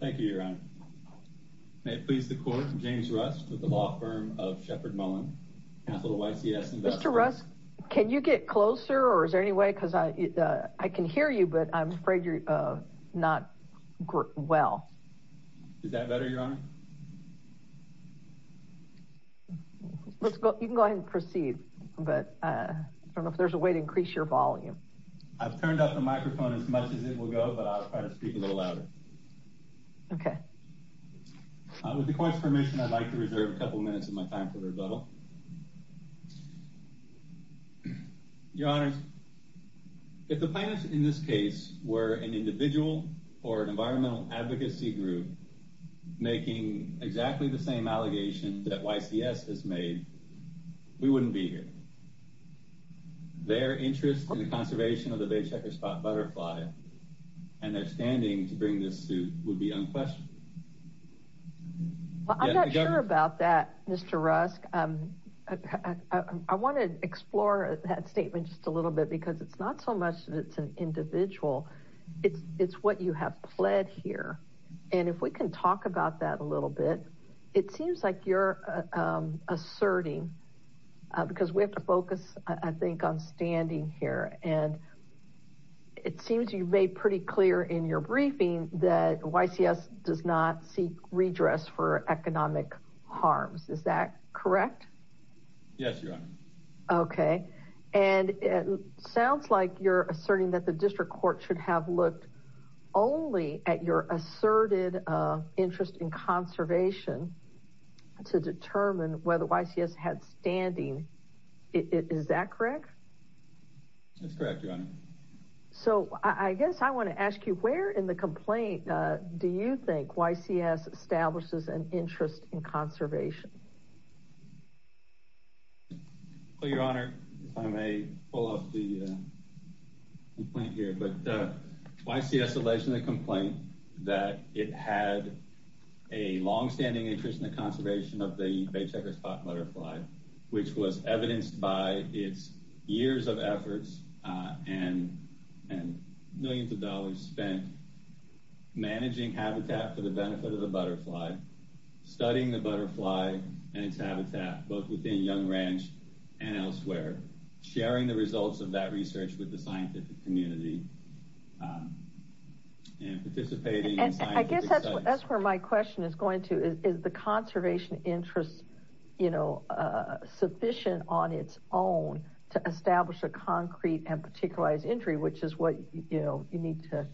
Thank you, Your Honor. May it please the Court, James Russ with the law firm of Shepard Mullen, Council of YCS Investments. Mr. Russ, can you get closer or is there any way because I can hear you, but I'm afraid you're not well. Is that better, Your Honor? You can go ahead and proceed, but I don't know if there's a way to increase your volume. I've turned up the microphone as much as it will go, but I'll try to speak a little louder. Okay. With the Court's permission, I'd like to reserve a couple minutes of my time for rebuttal. Your Honor, if the plaintiffs in this case were an individual or an environmental advocacy group making exactly the same allegation that YCS has made, we wouldn't be here. Their interest in the conservation of the Bay Checkerspot butterfly and their standing to bring this suit would be unquestionable. Well, I'm not sure about that, Mr. Russ. I want to explore that statement just a little bit because it's not so much that it's an individual. It's what you have pled here. And if we can talk about that a little bit, it seems like you're asserting because we have to focus, I think, on standing here. And it seems you've made pretty clear in your briefing that YCS does not seek redress for economic harms. Is that correct? Yes, Your Honor. Okay. And it sounds like you're asserting that the District Court should have looked only at your asserted interest in conservation to determine whether YCS had standing. Is that correct? That's correct, Your Honor. So I guess I want to ask you, where in the complaint do you think YCS establishes an interest in conservation? Well, Your Honor, if I may pull up the complaint here, but YCS alleged in the complaint that it had a longstanding interest in the conservation of the Bay Checkerspot butterfly, which was evidenced by its years of efforts and millions of dollars spent managing habitat for the benefit of the butterfly, studying the butterfly and its habitat, both within Young Ranch and elsewhere, sharing the results of that research with the scientific community, and participating in scientific studies. And I guess that's where my question is going to, is the conservation interest sufficient on its own to establish a concrete and particularized entry, which is what you need to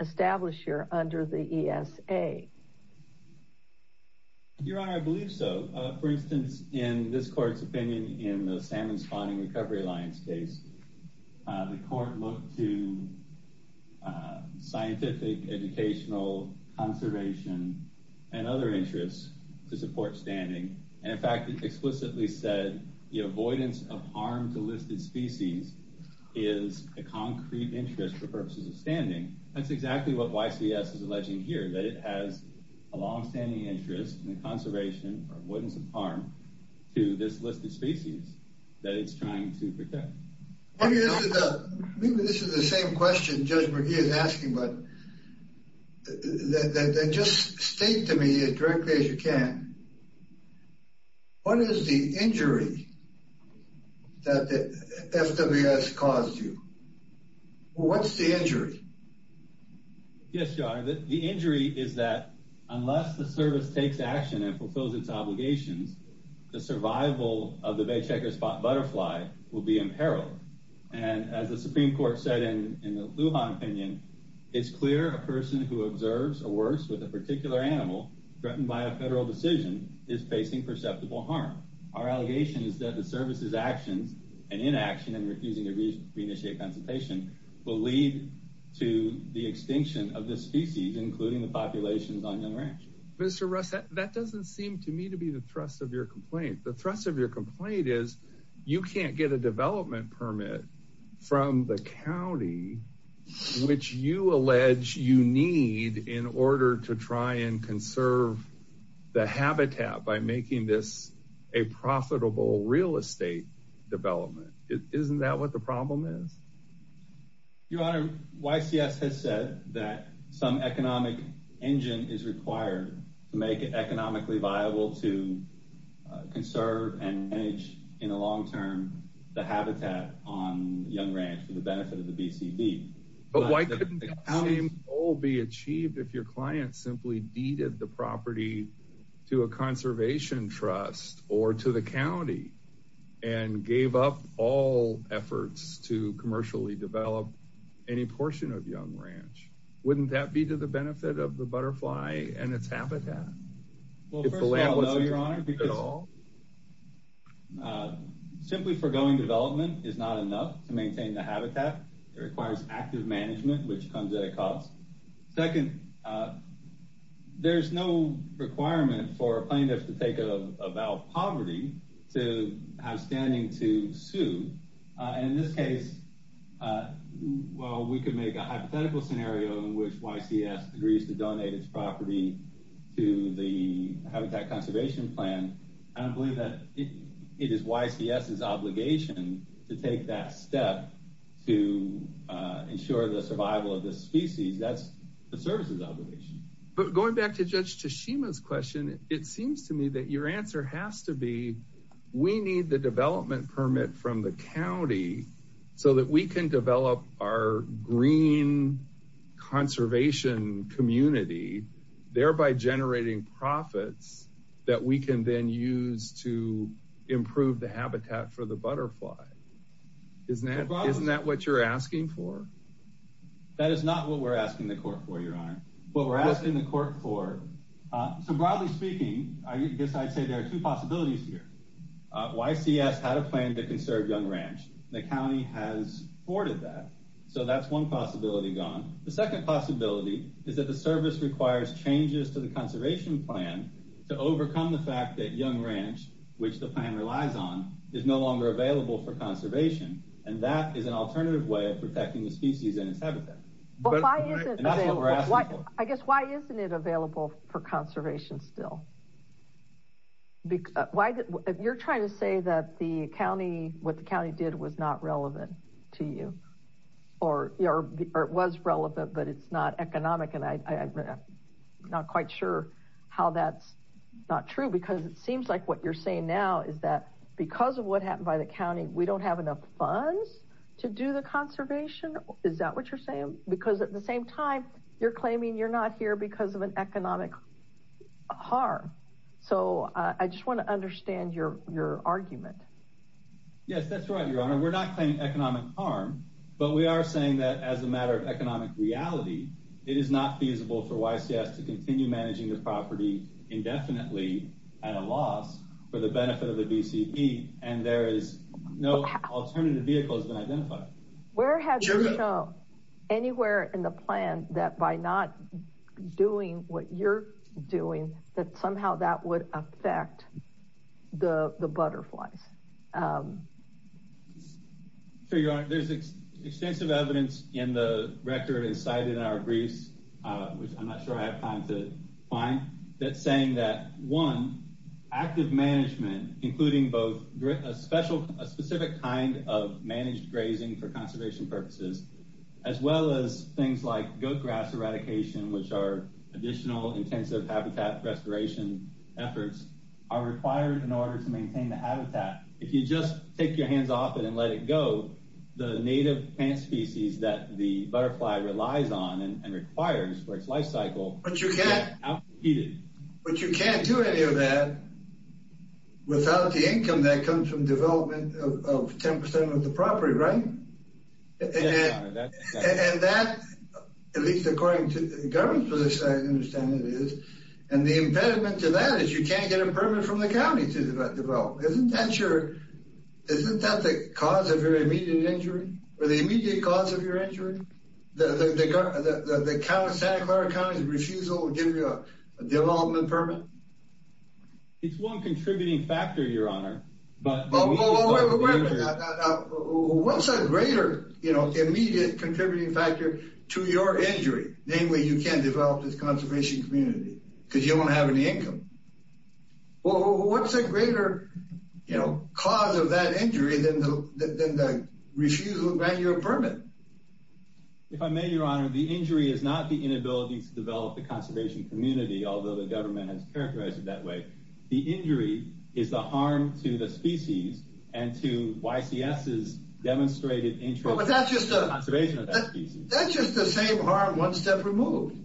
establish here under the ESA? Your Honor, I believe so. For instance, in this court's opinion, in the Salmon Spawning Recovery Alliance case, the court looked to scientific, educational, conservation, and other interests to support standing. And in fact, it explicitly said the avoidance of harm to listed species is a concrete interest for purposes of standing. That's exactly what YCS is alleging here, that it has a longstanding interest in the conservation, or avoidance of harm, to this listed species that it's trying to protect. Maybe this is the same question Judge McGee is asking, but just state to me as directly as you can, what is the injury that the FWS caused you? What's the injury? Yes, Your Honor, the injury is that unless the service takes action and fulfills its obligations, the survival of the bay checkerspot butterfly will be in peril. And as the Supreme Court said in the Lujan opinion, it's clear a person who observes or works with a particular animal threatened by a federal decision is facing perceptible harm. Our allegation is that the service's actions and inaction in refusing to re-initiate consultation will lead to the extinction of this species, including the populations on Young Ranch. Mr. Russ, that doesn't seem to me to be the thrust of your complaint. The thrust of your complaint is you can't get a development permit from the county, which you allege you need in order to try and conserve the habitat by making this a profitable real estate development. Isn't that what the problem is? Your Honor, YCS has said that some economic engine is required to make it economically viable to conserve and manage in the long term the habitat on Young Ranch for the benefit of the BCB. But why couldn't the county's goal be achieved if your client simply deeded the property to a conservation trust or to county and gave up all efforts to commercially develop any portion of Young Ranch? Wouldn't that be to the benefit of the butterfly and its habitat? Well, first of all, no, Your Honor. Simply foregoing development is not enough to maintain the habitat. It requires active management, which comes at a cost. Second, there's no requirement for a plaintiff to take a vow of to have standing to sue. In this case, while we could make a hypothetical scenario in which YCS agrees to donate its property to the habitat conservation plan, I don't believe that it is YCS's obligation to take that step to ensure the survival of this species. That's the service's obligation. But going back to Judge Tashima's question, it seems to me that your answer has to We need the development permit from the county so that we can develop our green conservation community, thereby generating profits that we can then use to improve the habitat for the butterfly. Isn't that what you're asking for? That is not what we're asking the court for, Your Honor. What we're asking the court for, so broadly speaking, I guess I'd say there are two here. YCS had a plan to conserve Young Ranch. The county has thwarted that, so that's one possibility gone. The second possibility is that the service requires changes to the conservation plan to overcome the fact that Young Ranch, which the plan relies on, is no longer available for conservation, and that is an alternative way of protecting the species and its habitat. But why isn't it available for conservation still? You're trying to say that what the county did was not relevant to you, or it was relevant, but it's not economic, and I'm not quite sure how that's not true, because it seems like what you're saying now is that because of what happened by the county, we don't have enough funds to do conservation. Is that what you're saying? Because at the same time, you're claiming you're not here because of an economic harm. So I just want to understand your argument. Yes, that's right, Your Honor. We're not claiming economic harm, but we are saying that as a matter of economic reality, it is not feasible for YCS to continue managing the property indefinitely at a loss for the Where have you shown anywhere in the plan that by not doing what you're doing, that somehow that would affect the butterflies? Sure, Your Honor. There's extensive evidence in the record and cited in our briefs, which I'm not sure I have time to find, that's saying that one, active management, including both a special, a specific kind of managed grazing for conservation purposes, as well as things like goat grass eradication, which are additional intensive habitat restoration efforts, are required in order to maintain the habitat. If you just take your hands off it and let it go, the native plant species that the butterfly relies on and requires for its life cycle But you can't, but you can't do any of that without the income that comes from development of 10% of the property, right? And that, at least according to the government's position, I understand it is, and the impediment to that is you can't get a permit from the county to develop. Isn't that your, isn't that the cause of your immediate injury or the immediate cause of your refusal to give you a development permit? It's one contributing factor, Your Honor, but What's a greater, you know, immediate contributing factor to your injury, the only way you can develop this conservation community? Because you don't have any income. Well, what's a greater, you know, cause of that injury than the refusal to grant you a permit? If I may, Your Honor, the injury is not the inability to develop the conservation community, although the government has characterized it that way. The injury is the harm to the species and to YCS's demonstrated interest in the conservation of that species. That's just the same harm one step removed.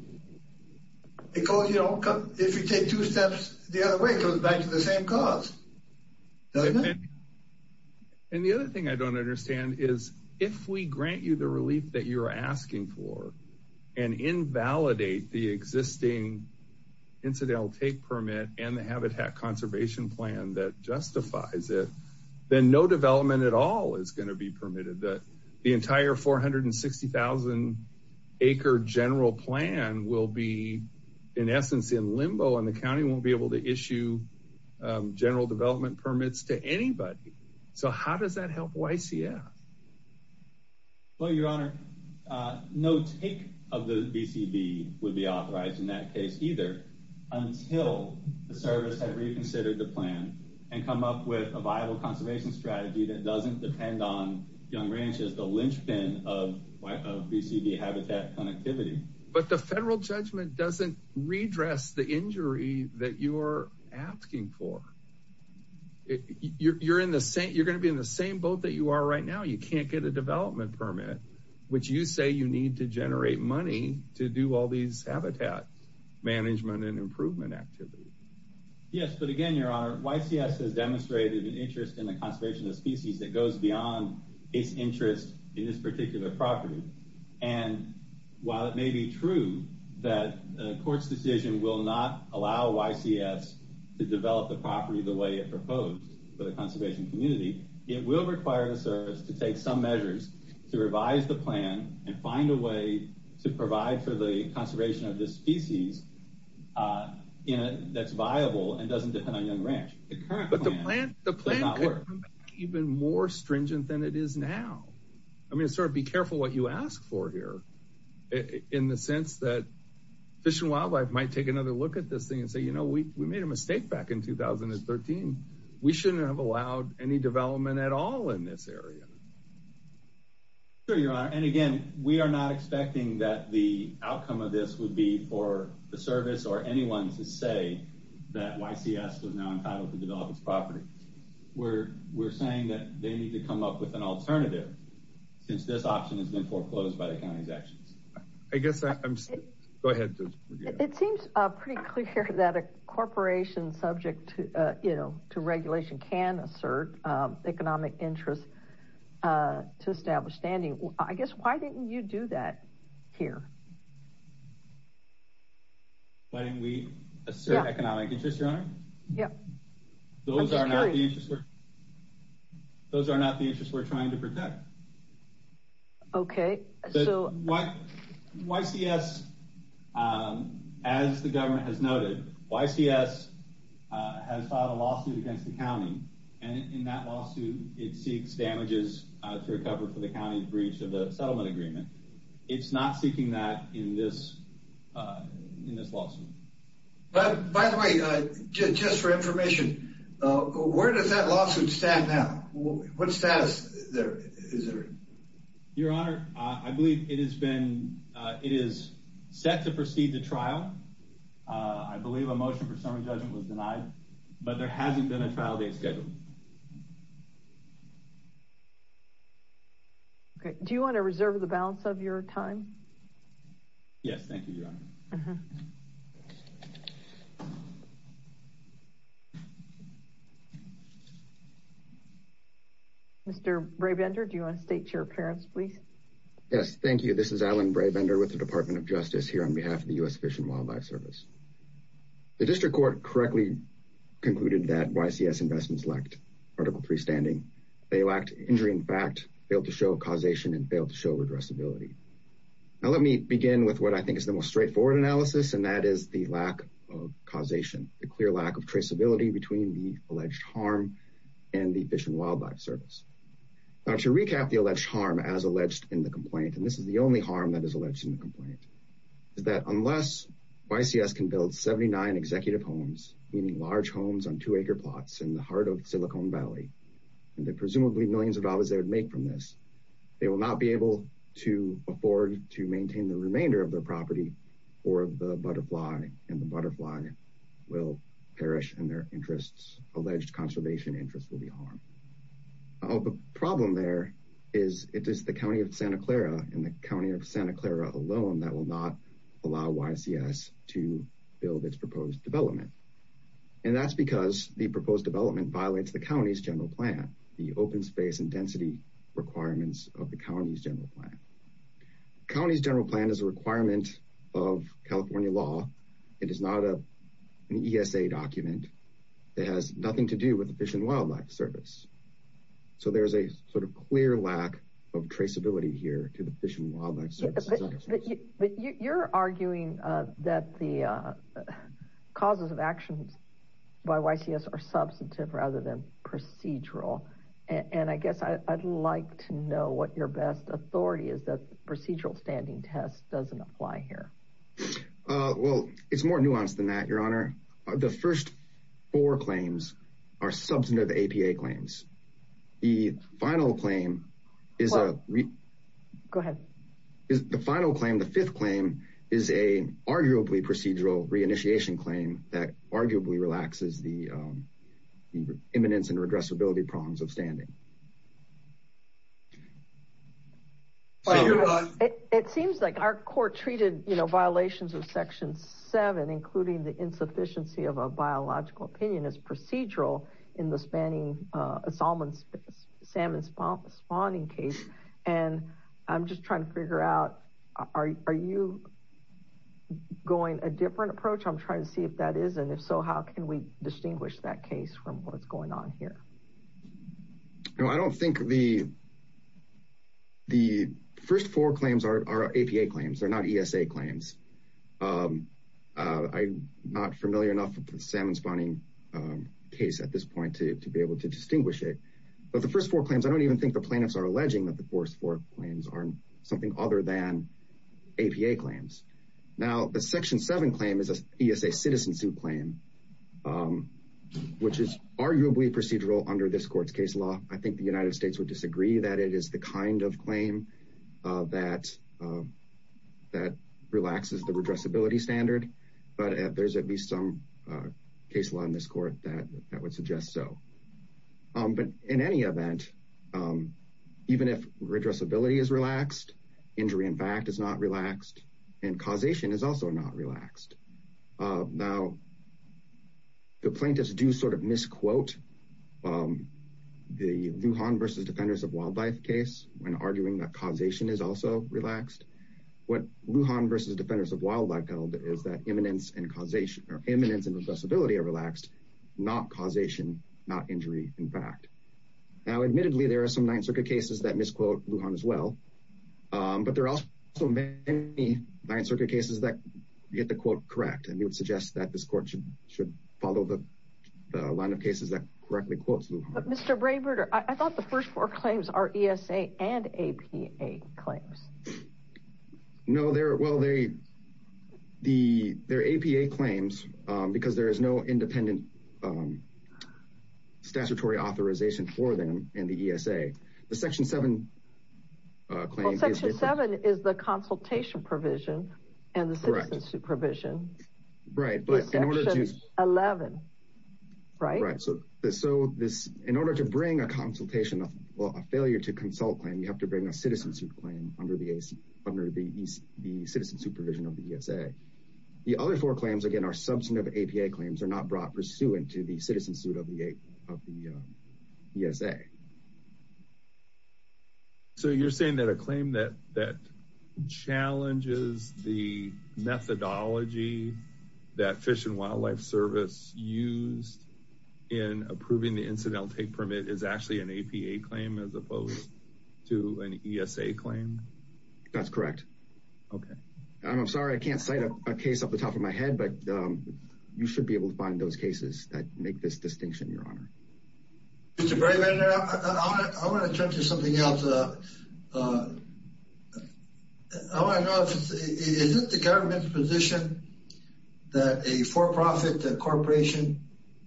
Because, you know, if you take two steps the other way, it goes back to the same cause. Doesn't it? And the other thing I don't understand is if we grant you the relief that you're asking for and invalidate the existing incidental take permit and the habitat conservation plan that justifies it, then no development at all is going to be permitted. The entire 460,000 acre general plan will be, in essence, in limbo and the county won't be able to issue general development permits to anybody. So how does that help YCS? Well, Your Honor, no take of the BCB would be authorized in that case either until the service had reconsidered the plan and come up with a viable conservation strategy that doesn't depend on Yonge Ranch as the linchpin of BCB habitat connectivity. But the federal judgment doesn't redress the injury that you're asking for. You're going to be in the same boat that you are right now. You can't get a development permit, which you say you need to generate money to do all these habitat management and improvement activities. Yes, but again, Your Honor, YCS has demonstrated an interest in the conservation of species that goes beyond its interest in this particular property. And while it may be true that the court's decision will not allow YCS to develop the property the way it proposed for the conservation community, it will require the service to take some measures to revise the plan and find a way to provide for the conservation of this species that's viable and doesn't depend on Yonge Ranch. But the plan could come back even more stringent than it is now. I mean, sort of be careful what you ask for here in the sense that Fish and Wildlife might take another look at this thing and say, you know, we made a mistake back in 2013. We shouldn't have allowed any development at all in this area. Sure, Your Honor. And again, we are not expecting that the outcome of this would be for the service or anyone to say that an alternative, since this option has been foreclosed by the county's actions. I guess I'm, go ahead. It seems pretty clear that a corporation subject to, you know, to regulation can assert economic interest to establish standing. I guess, why didn't you do that here? Why didn't we assert economic interest, Your Honor? Yeah. Those are not the interests. Those are not the interests we're trying to protect. Okay. So, YCS, as the government has noted, YCS has filed a lawsuit against the county. And in that lawsuit, it seeks damages to recover for the county breach of the settlement agreement. It's not seeking that in this lawsuit. But, by the way, just for information, where does that lawsuit stand now? What status is there? Your Honor, I believe it has been, it is set to proceed to trial. I believe a motion for summary judgment was denied, but there hasn't been a trial date scheduled. Okay. Do you want to reserve the balance of your time? Yes. Thank you, Your Honor. Mr. Brabender, do you want to state your appearance, please? Yes. Thank you. This is Alan Brabender with the Department of Justice here on behalf of the U.S. Fish and Wildlife Service. The district court correctly concluded that YCS investments lacked Article 3 standing. They lacked injury in fact, failed to show causation, and failed to show addressability. Now, let me begin with what I think is the most straightforward analysis, and that is the lack of causation, the clear lack of traceability between the alleged harm and the Fish and Wildlife Service. Now, to recap the alleged harm as alleged in the complaint, and this is the only harm that is alleged in the complaint, is that unless YCS can build 79 executive homes, meaning large homes on two-acre plots in the heart of Silicon Valley, and the presumably millions of dollars they would make from this, they will not be able to afford to maintain the remainder of their property for the butterfly, and the butterfly will perish, and their interests, alleged conservation interests, will be harmed. The problem there is it is the County of Santa Clara and the County of Santa Clara alone that will not allow YCS to build its proposed development, and that's because the proposed development violates the county's general plan, the open space and density requirements of the county's general plan. The county's general plan is a requirement of California law. It is not an ESA document. It has nothing to do with the Fish and Wildlife Service, so there's a sort of clear lack of traceability here to the Fish and Wildlife Service. But you're arguing that the causes of actions by YCS are substantive rather than procedural, and I guess I'd like to know what your best authority is that the procedural standing test doesn't apply here. Well, it's more nuanced than that, Your Honor. The first four claims are substantive APA claims. The final claim is a... Go ahead. The final claim, the fifth claim, is an arguably procedural reinitiation claim that arguably relaxes the eminence and regressibility prongs of standing. It seems like our court treated, you know, violations of Section 7, including the insufficiency of a biological opinion, as procedural in the salmon spawning case, and I'm just trying to figure out are you going a different approach? I'm trying to see if that is, and if so, how can we distinguish that case from what's going on here? No, I don't think the first four claims are APA claims. They're not ESA claims. I'm not familiar enough with the salmon spawning case at this point to be able to distinguish it, but the first four claims, I don't even think the plaintiffs are APA claims. Now, the Section 7 claim is an ESA citizen suit claim, which is arguably procedural under this court's case law. I think the United States would disagree that it is the kind of claim that relaxes the regressibility standard, but there's at least some case law in this court that would suggest so. But in any event, even if regressibility is relaxed, injury, in fact, is not relaxed, and causation is also not relaxed. Now, the plaintiffs do sort of misquote the Lujan versus Defenders of Wildlife case when arguing that causation is also relaxed. What Lujan versus Defenders of Wildlife held is that imminence and regressibility are relaxed, not causation, not injury, in fact. Now, but there are also many Ninth Circuit cases that get the quote correct, and we would suggest that this court should follow the line of cases that correctly quotes Lujan. But Mr. Brayberger, I thought the first four claims are ESA and APA claims. No, they're, well, they're APA claims because there is no independent statutory authorization for them in the ESA. The Section 7 claim is... Well, Section 7 is the consultation provision and the citizen suit provision. Right, but in order to... Section 11, right? Right, so this, in order to bring a consultation, well, a failure to consult claim, you have to bring a citizen suit claim under the citizen supervision of the ESA. The other four claims, again, are substantive APA claims. They're not brought pursuant to the citizen suit of the ESA. So, you're saying that a claim that challenges the methodology that Fish and Wildlife Service used in approving the incidental take permit is actually an APA claim as opposed to an ESA claim? That's correct. Okay. I'm sorry, I can't cite a case off the top of my head, but you should be able to find those cases that make this distinction, Your Honor. Mr. Berryman, I want to turn to something else. I want to know, is it the government's position that a for-profit corporation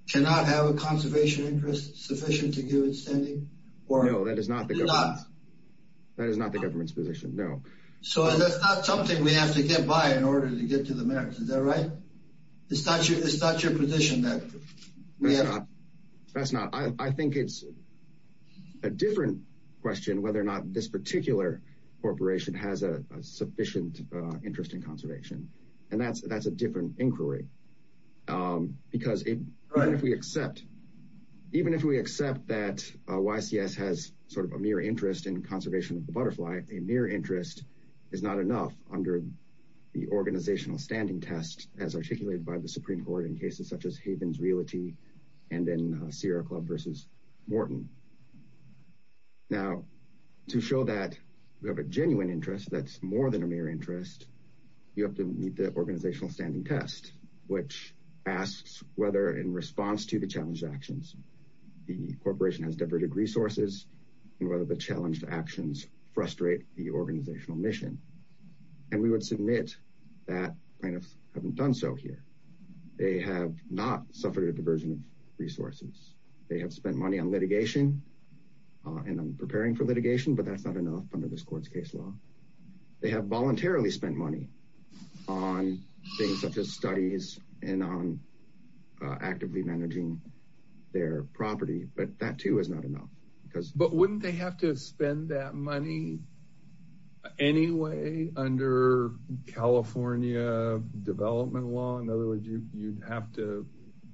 cannot have a conservation interest sufficient to give its standing? No, that is not the government's position, no. So, that's not something we have to get by in order to get to the merits, is that right? It's not your position that we have to- That's not, I think it's a different question whether or not this particular corporation has a sufficient interest in conservation. And that's a different inquiry because even if we accept that YCS has sort of a mere interest in conservation of the butterfly, a mere interest is not enough under the organizational standing test as articulated by the Supreme Court in cases such as Havens Realty and in Sierra Club versus Morton. Now, to show that we have a genuine interest that's more than a mere interest, you have to meet the organizational standing test, which asks whether in response to the challenged actions, the corporation has diverted resources and whether the challenged actions frustrate the organizational mission. And we would submit that haven't done so here. They have not suffered a diversion of resources. They have spent money on litigation and on preparing for litigation, but that's not enough under this court's case law. They have voluntarily spent money on things such as studies and on actively managing their property, but that too is not enough because- But wouldn't they have to spend that money anyway under California development law? In other words, you'd have to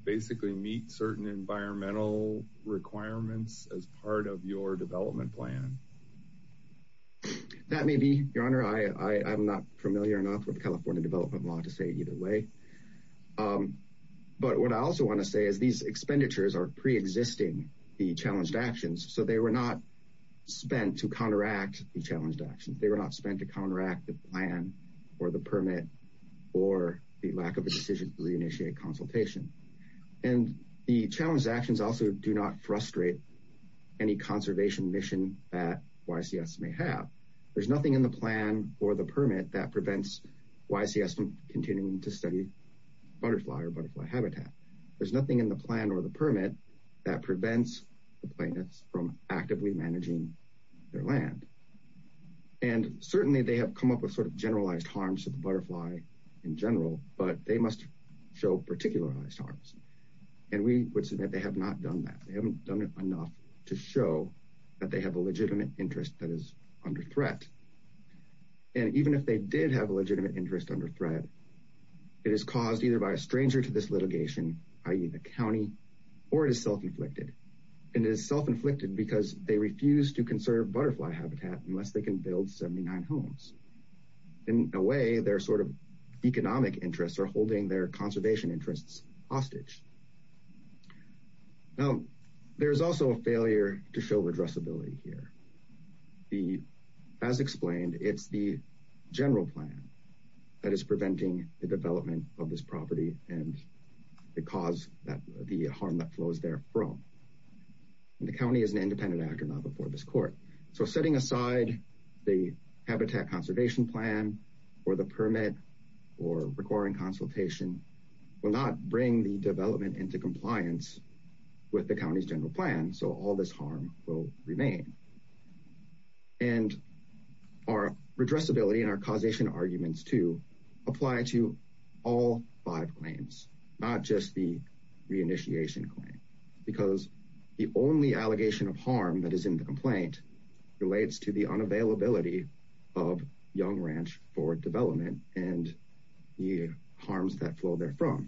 basically meet certain environmental requirements as part of your development plan. That may be, your honor. I'm not familiar enough with California development law to say either way. But what I also want to say is these expenditures are pre-existing the challenged actions, so they were not spent to counteract the challenged actions. They were not spent to counteract the plan or the permit or the lack of a decision to re-initiate consultation. And the challenged actions also do not frustrate any conservation mission that YCS may have. There's nothing in the plan or the permit that prevents YCS from continuing to study butterfly or butterfly habitat. There's nothing in the plan or the permit that prevents the plaintiffs from actively managing their land. And certainly they have come up with sort of generalized harms to the butterfly in general, but they must show particularized harms. And we would submit they have not done that. They haven't done it enough to show that they have a legitimate interest that is under threat. And even if they did have a legitimate interest under threat, it is caused either by a stranger to this litigation, i.e. the county, or it is self-inflicted. And it is self-inflicted because they refuse to conserve butterfly habitat unless they can build 79 homes. In a way, their sort of economic interests are also a failure to show redressability here. As explained, it's the general plan that is preventing the development of this property and the harm that flows there from. And the county is an independent actor not before this court. So setting aside the habitat conservation plan or the permit or requiring consultation will not bring the development into compliance with the county's general plan. So all this harm will remain. And our redressability and our causation arguments to apply to all five claims, not just the reinitiation claim, because the only allegation of harm that is in the complaint relates to the unavailability of the permit.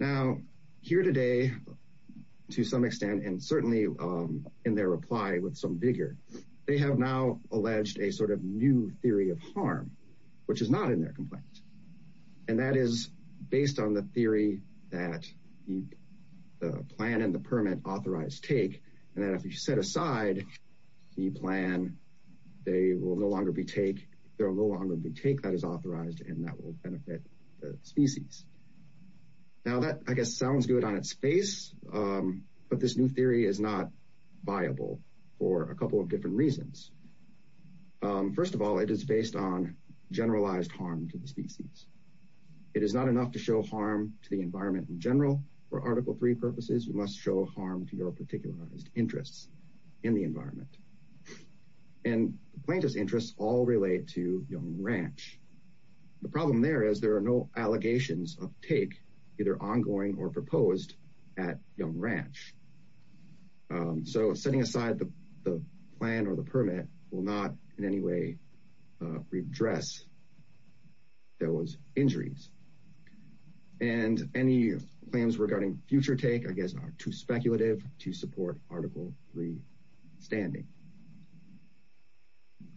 And to some extent, and certainly in their reply with some vigor, they have now alleged a sort of new theory of harm, which is not in their complaint. And that is based on the theory that the plan and the permit authorized take. And then if you set aside the plan, they will no longer be take. There will no longer be take that is authorized, and that will benefit species. Now that, I guess, sounds good on its face, but this new theory is not viable for a couple of different reasons. First of all, it is based on generalized harm to the species. It is not enough to show harm to the environment in general. For Article 3 purposes, you must show harm to your particularized interests in the environment. And plaintiff's all relate to Yonge Ranch. The problem there is there are no allegations of take either ongoing or proposed at Yonge Ranch. So setting aside the plan or the permit will not in any way redress those injuries. And any claims regarding future take, I guess, are too speculative to support Article 3 standing.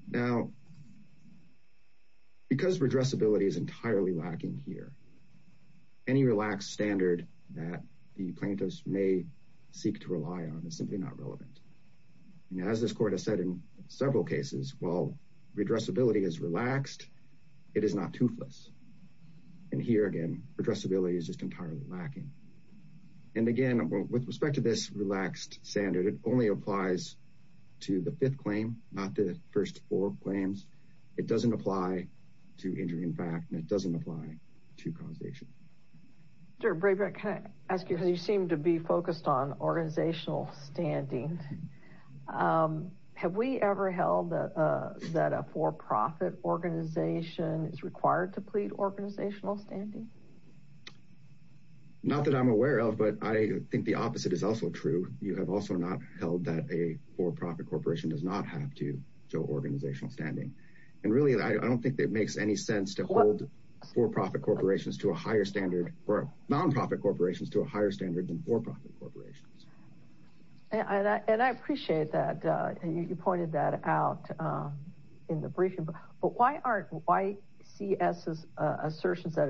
Now, because redressability is entirely lacking here, any relaxed standard that the plaintiffs may seek to rely on is simply not relevant. And as this court has said in several cases, while redressability is relaxed, it is not toothless. And here again, redressability is just entirely lacking. And again, with respect to this relaxed standard, it only applies to the fifth claim, not the first four claims. It doesn't apply to injury in fact, and it doesn't apply to causation. Director Brabrandt, can I ask you, you seem to be focused on organizational standing. Have we ever held that a for-profit organization is required to plead organizational standing? Not that I'm aware of, but I think the opposite is also true. You have also not held that a for-profit corporation does not have to show organizational standing. And really, I don't think that it makes any sense to hold for-profit corporations to a higher standard, or non-profit corporations to a higher standard than for-profit corporations. And I appreciate that you pointed that out in the briefing, but why aren't YCS's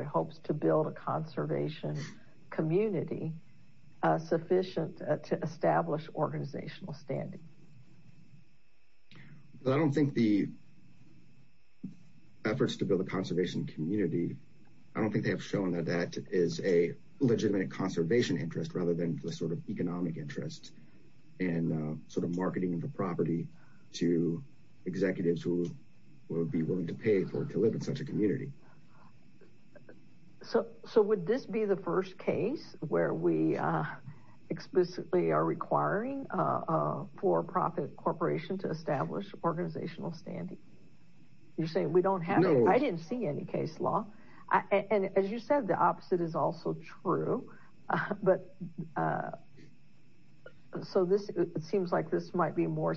hopes to build a conservation community sufficient to establish organizational standing? I don't think the efforts to build a conservation community, I don't think they have shown that that is a legitimate conservation interest, rather than the sort of economic interest in sort of marketing the property to executives who would be willing to pay for it to live in a community. So would this be the first case where we explicitly are requiring a for-profit corporation to establish organizational standing? You're saying we don't have it? I didn't see any case law. And as you said, the opposite is also true. But so this seems like this might be more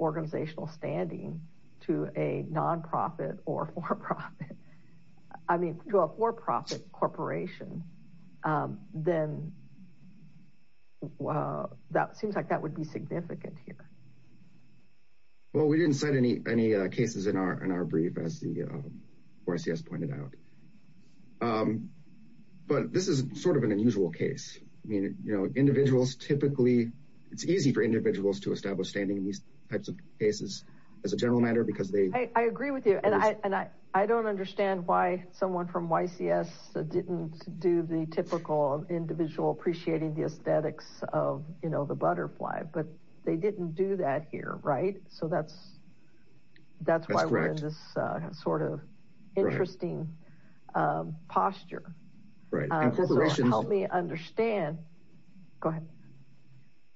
organizational standing to a non-profit or for-profit, I mean, to a for-profit corporation, then that seems like that would be significant here. Well, we didn't cite any cases in our brief, as YCS pointed out. But this is sort of an unusual case. I mean, you know, individuals typically, it's easy for individuals to establish standing in these types of cases, as a general matter, because they... I agree with you. And I don't understand why someone from YCS didn't do the typical individual appreciating the aesthetics of, you know, the butterfly, but they didn't do that here, right? So that's why we're in this sort of interesting posture. Right. And corporations... Help me understand. Go ahead.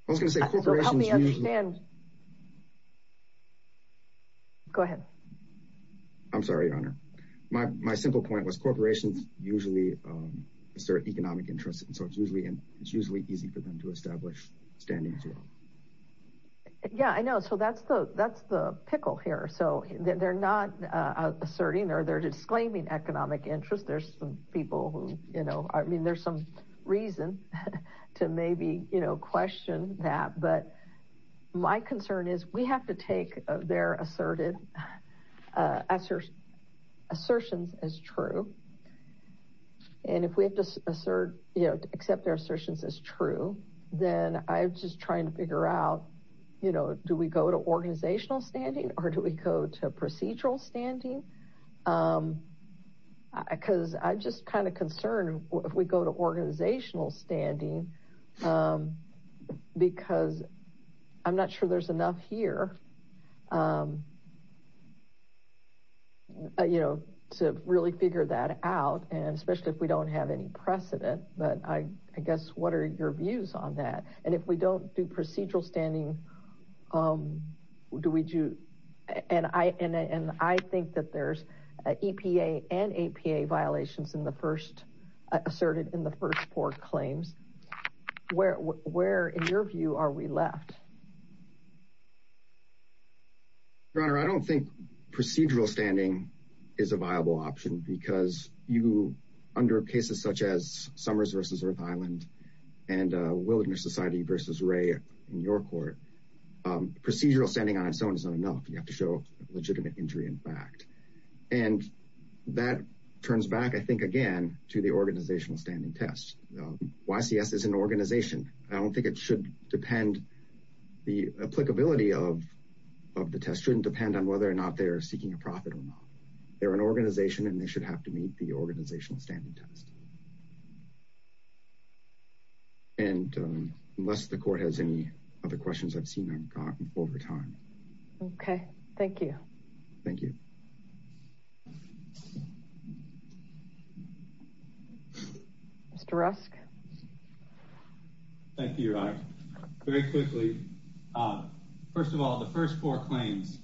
I was going to say corporations usually... Help me understand. Go ahead. I'm sorry, Your Honor. My simple point was corporations usually assert economic interest, and so it's usually easy for them to establish standing as well. Yeah, I know. So that's the asserting or they're disclaiming economic interest. There's some people who, you know, I mean, there's some reason to maybe, you know, question that. But my concern is we have to take their asserted assertions as true. And if we have to assert, you know, accept their assertions as true, then I'm just trying to figure out, you know, do we go to organizational standing or do we go to procedural standing? Because I'm just kind of concerned if we go to organizational standing because I'm not sure there's enough here, you know, to really figure that out, and especially if we don't have any precedent. But I guess what are your views on that? And if there's EPA and APA violations asserted in the first four claims, where, in your view, are we left? Your Honor, I don't think procedural standing is a viable option because you, under cases such as Summers v. Earth Island and Wilderness Society v. Ray in your court, procedural standing on its own is not enough. You have to show legitimate injury in fact. And that turns back, I think, again to the organizational standing test. YCS is an organization. I don't think it should depend, the applicability of the test shouldn't depend on whether or not they're seeking a profit or not. They're an organization and they should have to meet the organizational standing test. And unless the court has any other questions, I've seen them over time. Okay, thank you. Thank you. Mr. Rusk. Thank you, Your Honor. Very quickly, first of all, the first four claims,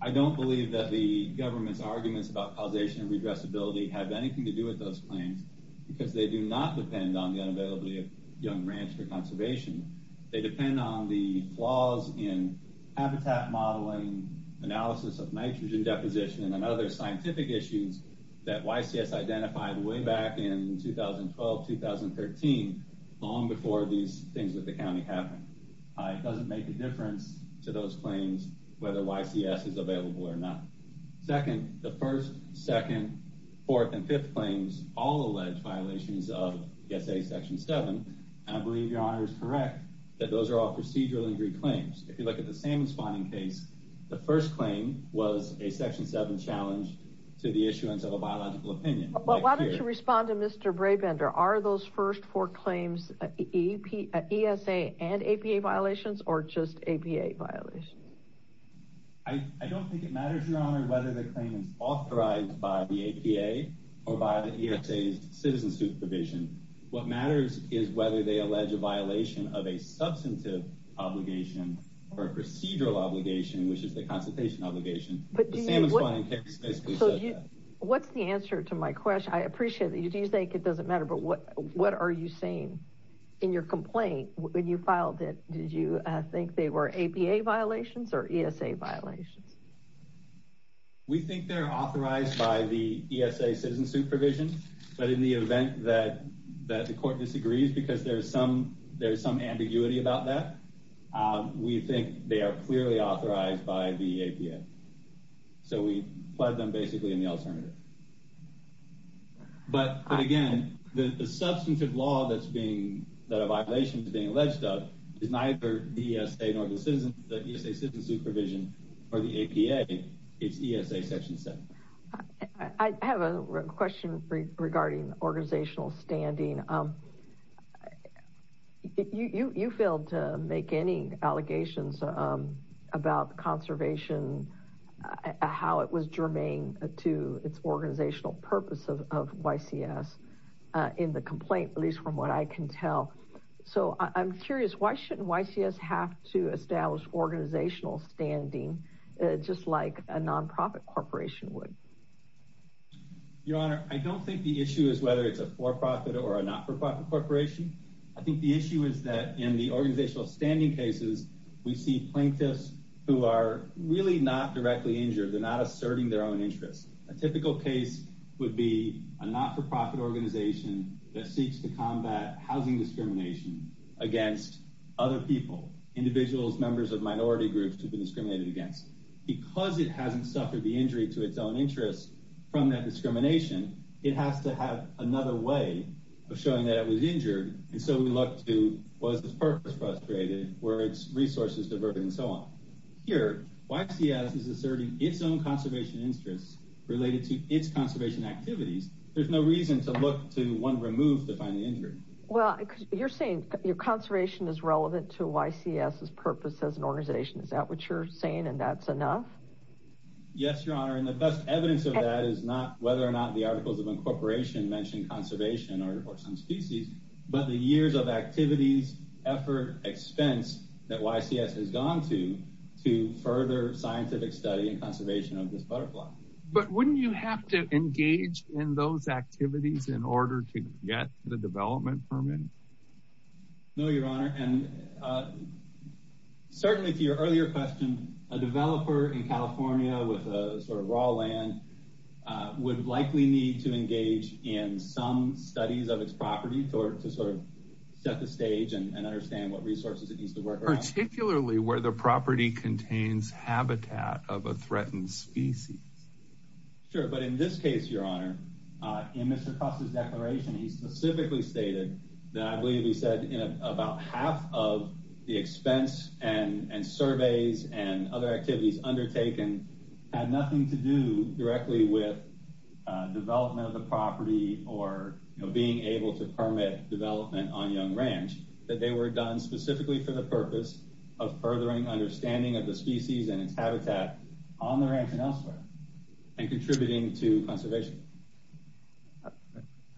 I don't believe that the government's arguments about causation and redressability have anything to do with those claims because they do not depend on the unavailability of Young Ranch for conservation. They depend on the flaws in habitat modeling, analysis of nitrogen deposition, and other scientific issues that YCS identified way back in 2012-2013, long before these things with the county happened. It doesn't make a difference to those claims whether YCS is available or not. Second, the first, second, fourth, and fifth claims all allege violations of S.A. Section 7. And I believe Your Honor is correct that those are all procedural injury claims. If you look at the salmon spawning case, the first claim was a Section 7 challenge to the issuance of a biological opinion. But why don't you respond to Mr. Brabender? Are those first four claims E.S.A. and A.P.A. violations or just A.P.A. violations? I don't think it matters, Your Honor, whether the claim is authorized by the A.P.A. or by the E.S.A.'s citizen supervision. What matters is whether they allege a violation of a substantive obligation or a procedural obligation, which is the consultation obligation. What's the answer to my question? I appreciate that you do think it doesn't matter, but what are you saying in your complaint when you filed it? Did you think they were A.P.A. violations or E.S.A. violations? We think they're authorized by the E.S.A. citizen supervision, but in the event that the court disagrees because there's some ambiguity about that, we think they are clearly authorized by the A.P.A. So we plead them basically in the alternative. But again, the substantive law that a violation is being alleged of is neither the E.S.A. nor the citizen supervision or the A.P.A. It's E.S.A. Section 7. I have a question regarding organizational standing. You failed to make any allegations about conservation, how it was germane to its organizational purpose of YCS in the complaint, at least from what I can tell. So I'm curious, why shouldn't YCS have to establish organizational standing just like a non-profit corporation would? Your Honor, I don't think the issue is whether it's a for-profit or a not-for-profit corporation. I think the issue is that in the organizational standing cases, we see plaintiffs who are really not directly injured. They're not asserting their own interests. A typical case would be a not-for-profit organization that seeks to combat housing discrimination against other people, individuals, members of minority groups who've been discriminated against. Because it hasn't suffered the injury to its own interests from that discrimination, it has to have another way of showing that it was injured. And so we look to was this purpose frustrated, were its resources diverted, and so on. Here, YCS is asserting its own conservation interests related to its There's no reason to look to one removed to find the injury. Well, you're saying your conservation is relevant to YCS's purpose as an organization. Is that what you're saying, and that's enough? Yes, Your Honor, and the best evidence of that is not whether or not the articles of incorporation mention conservation or some species, but the years of activities, effort, expense that YCS has gone to to further scientific study and conservation of this butterfly. But wouldn't you have to do those activities in order to get the development permit? No, Your Honor, and certainly to your earlier question, a developer in California with a sort of raw land would likely need to engage in some studies of its property to sort of set the stage and understand what resources it needs to work around. Particularly where the property contains habitat of a threatened species. Sure, but in this case, Your Honor, in Mr. Cross's declaration, he specifically stated that I believe he said in about half of the expense and surveys and other activities undertaken had nothing to do directly with development of the property or being able to permit development on Young Ranch, that they were done specifically for the purpose of furthering understanding of the species and its habitat on the ranch and elsewhere and contributing to conservation. I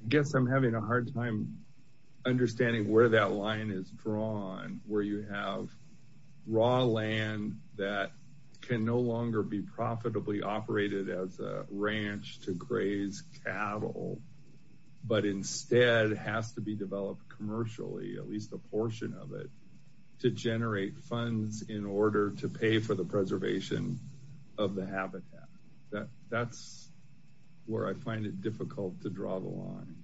guess I'm having a hard time understanding where that line is drawn, where you have raw land that can no longer be profitably operated as a ranch to graze cattle, but instead has to be developed commercially, at least a portion of it, to generate funds in order to pay for the preservation of the habitat. That's where I find it difficult to draw the line.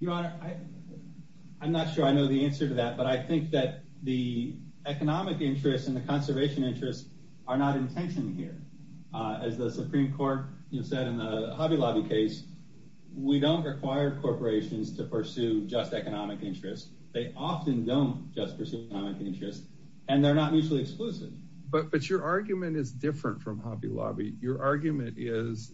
Your Honor, I'm not sure I know the answer to that, but I think that the economic interest and Supreme Court, you said in the Hobby Lobby case, we don't require corporations to pursue just economic interest. They often don't just pursue economic interest and they're not mutually exclusive. But your argument is different from Hobby Lobby. Your argument is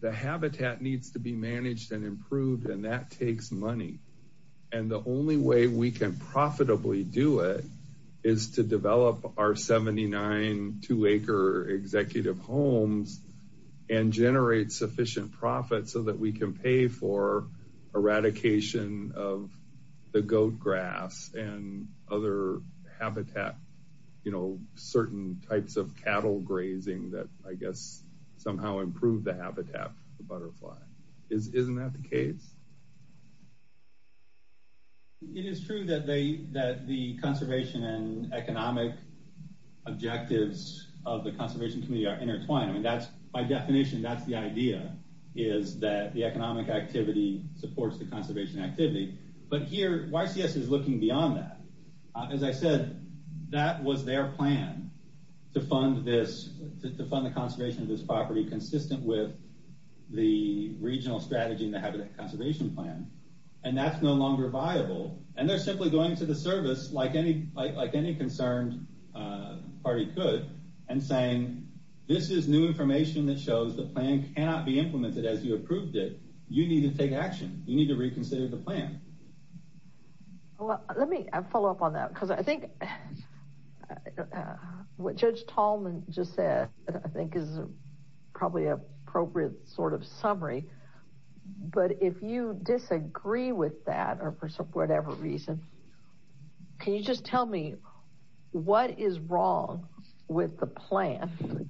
the habitat needs to be managed and improved and that takes money and the only way we can profitably do it is to and generate sufficient profit so that we can pay for eradication of the goat grass and other habitat, you know, certain types of cattle grazing that I guess somehow improve the habitat of the butterfly. Isn't that the case? It is true that the conservation and economic objectives of the by definition, that's the idea, is that the economic activity supports the conservation activity, but here YCS is looking beyond that. As I said, that was their plan to fund this, to fund the conservation of this property consistent with the regional strategy in the Habitat Conservation Plan and that's no longer viable and they're simply going to the service like any concerned party could and saying this is new information that shows the plan cannot be implemented as you approved it. You need to take action. You need to reconsider the plan. Well, let me follow up on that because I think what Judge Tallman just said I think is probably an appropriate sort of summary, but if you disagree with that or for whatever reason, can you just tell me what is wrong with the plan?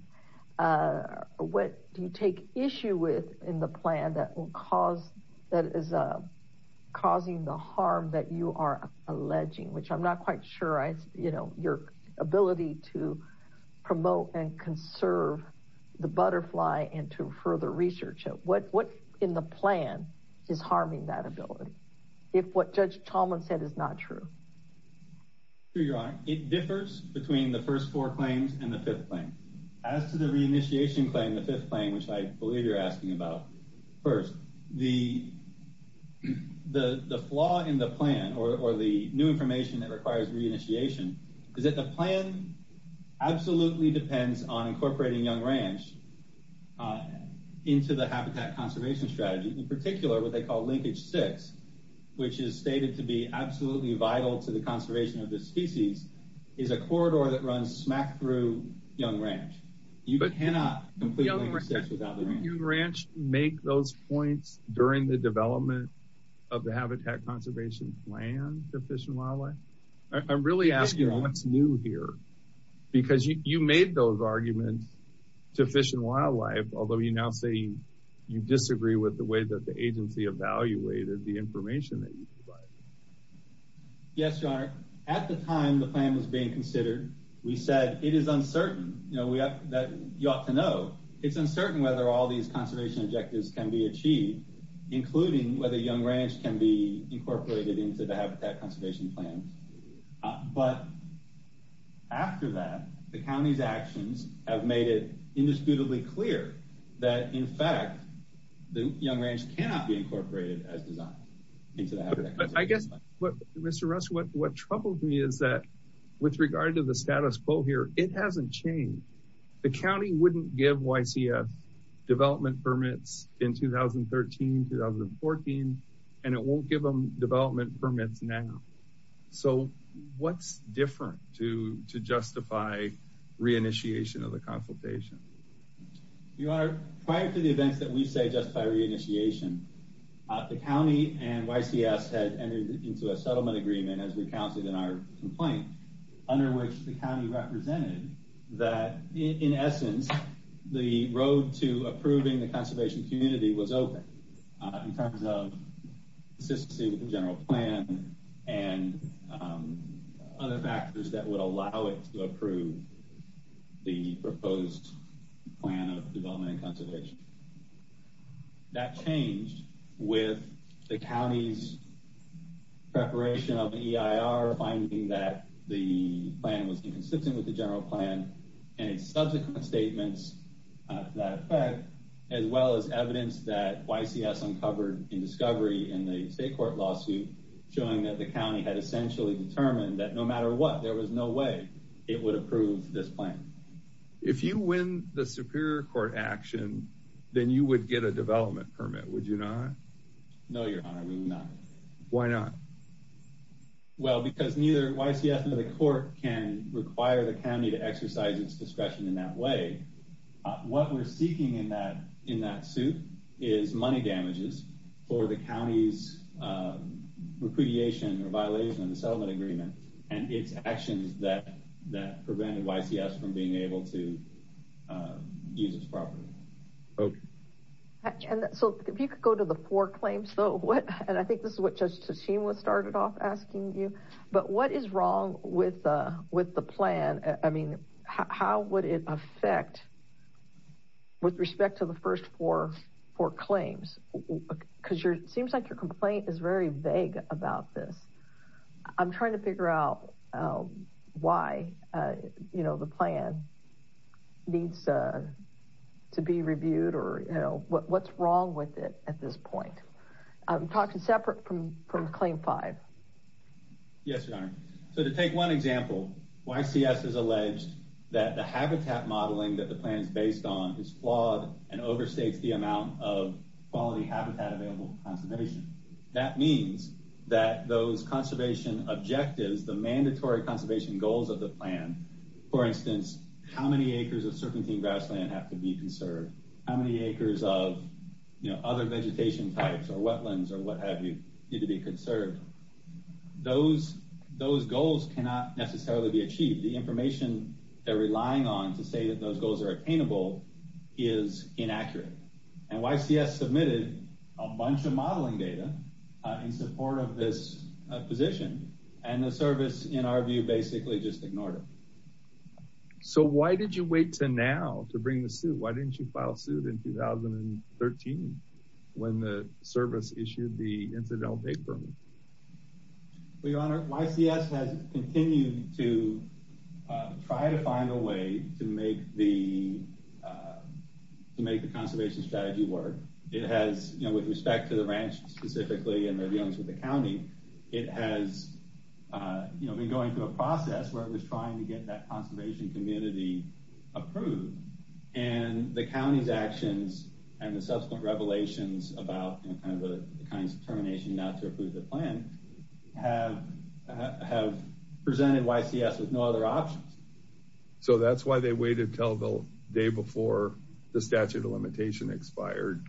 What do you take issue with in the plan that will cause, that is causing the harm that you are alleging, which I'm not quite sure, you know, your ability to promote and conserve the butterfly and to further research it? What in the plan is harming that ability if what Judge Tallman said is not true? It differs between the first four claims and the fifth claim. As to the reinitiation claim, the fifth claim, which I believe you're asking about first, the flaw in the plan or the new information that requires reinitiation is that the plan absolutely depends on incorporating Young Ranch into the habitat conservation strategy. In particular, what they call Linkage 6, which is stated to be absolutely vital to the conservation of this species, is a corridor that runs smack through Young Ranch. You cannot complete Linkage 6 without the ranch. Did Young Ranch make those points during the development of the habitat conservation plan to Fish and Wildlife? I'm really asking what's new here, because you made those arguments to Fish and Wildlife, although you now say you disagree with the way that the agency evaluated the information that you provided. Yes, Your Honor. At the time the plan was being considered, we said it is uncertain, you know, that you ought to know. It's uncertain whether all these conservation objectives can be achieved, including whether Young Ranch can be incorporated into the habitat conservation plan. But after that, the county's actions have made it indisputably clear that, in fact, Young Ranch cannot be incorporated as designed into the habitat conservation plan. I guess, Mr. Russell, what troubled me is that with regard to the status quo here, it hasn't changed. The county wouldn't give YCF development permits in 2013, 2014, and it won't give them development permits now. So what's different to justify re-initiation of the consultation? Your Honor, prior to the events that we say justify re-initiation, the county and YCF had entered into a settlement agreement, as we counted in our complaint, under which the county represented that, in essence, the road to approving the conservation community was open in terms of consistency with the general plan and other factors that would allow it to approve the proposed plan of development and conservation. That changed with the county's preparation of EIR, finding that the plan was inconsistent with the general plan, and its subsequent statements to that effect, as well as evidence that YCF uncovered in discovery in the state court lawsuit, showing that the county had essentially determined that no matter what, there was no way it would approve this plan. If you win the Superior Court action, then you would get a development permit, would you not? No, Your Honor, we would not. Why not? Well, because neither YCF nor the court can require the county to exercise its discretion in that way. What we're seeking in that suit is money damages for the county's repudiation or violation of the settlement agreement, and its actions that prevented YCF from being able to use its property. So, if you could go to the four claims, though, and I think this is what Judge Tasheem was started off asking you, but what is wrong with the plan? I mean, how would it affect with respect to the first four claims? Because it seems like your complaint is very vague about this. I'm trying to figure out why the plan needs to be reviewed, or what's wrong with it at this point. Talk to separate from claim five. Yes, Your Honor. So, to take one example, YCS has alleged that the habitat modeling that the plan is based on is flawed and overstates the amount of quality habitat available for conservation. That means that those conservation objectives, the mandatory conservation goals of the plan, for instance, how many acres of serpentine grassland have to be conserved? How many acres of, you know, other vegetation types or wetlands or what have you need to be conserved? Those goals cannot necessarily be achieved. The information they're relying on to say that those goals are attainable is inaccurate. And YCS submitted a bunch of modeling data in support of this position, and the service, in our view, basically just ignored it. So, why did you wait to now to bring the suit? Why didn't you file suit in 2013 when the service issued the incidental date permit? Well, Your Honor, YCS has continued to try to find a way to make the conservation strategy work. It has, you know, with respect to the ranch specifically and their dealings with the county, it has, you know, been going through a process where it's trying to get that conservation community approved. And the county's actions and the subsequent revelations about, you know, kind of the kind of determination not to approve the plan have presented YCS with no other options. So, that's why they waited until the day before the statute of limitation expired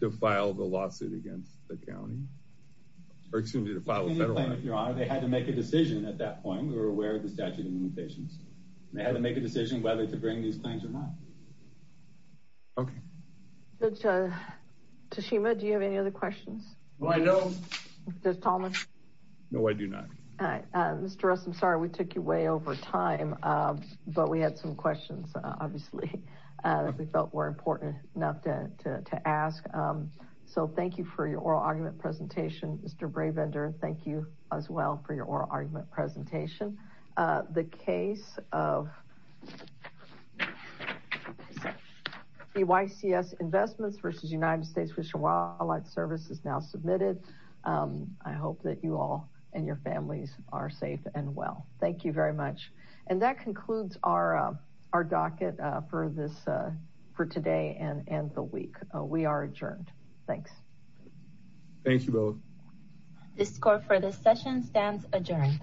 to file the lawsuit against the county? Or excuse me, to file a federal action. They had to make a decision at that point. We were aware of the limitations. They had to make a decision whether to bring these claims or not. Okay. Tashima, do you have any other questions? No, I don't. Mr. Talmadge? No, I do not. Mr. Russ, I'm sorry we took you way over time, but we had some questions, obviously, that we felt were important enough to ask. So, thank you for your oral argument presentation. Mr. Brabender, thank you as well for your oral argument presentation. The case of the YCS investments versus United States Fish and Wildlife Service is now submitted. I hope that you all and your families are safe and well. Thank you very much. And that concludes our docket for today and the week. We are adjourned. Thanks. Thank you both. The score for this session stands adjourned.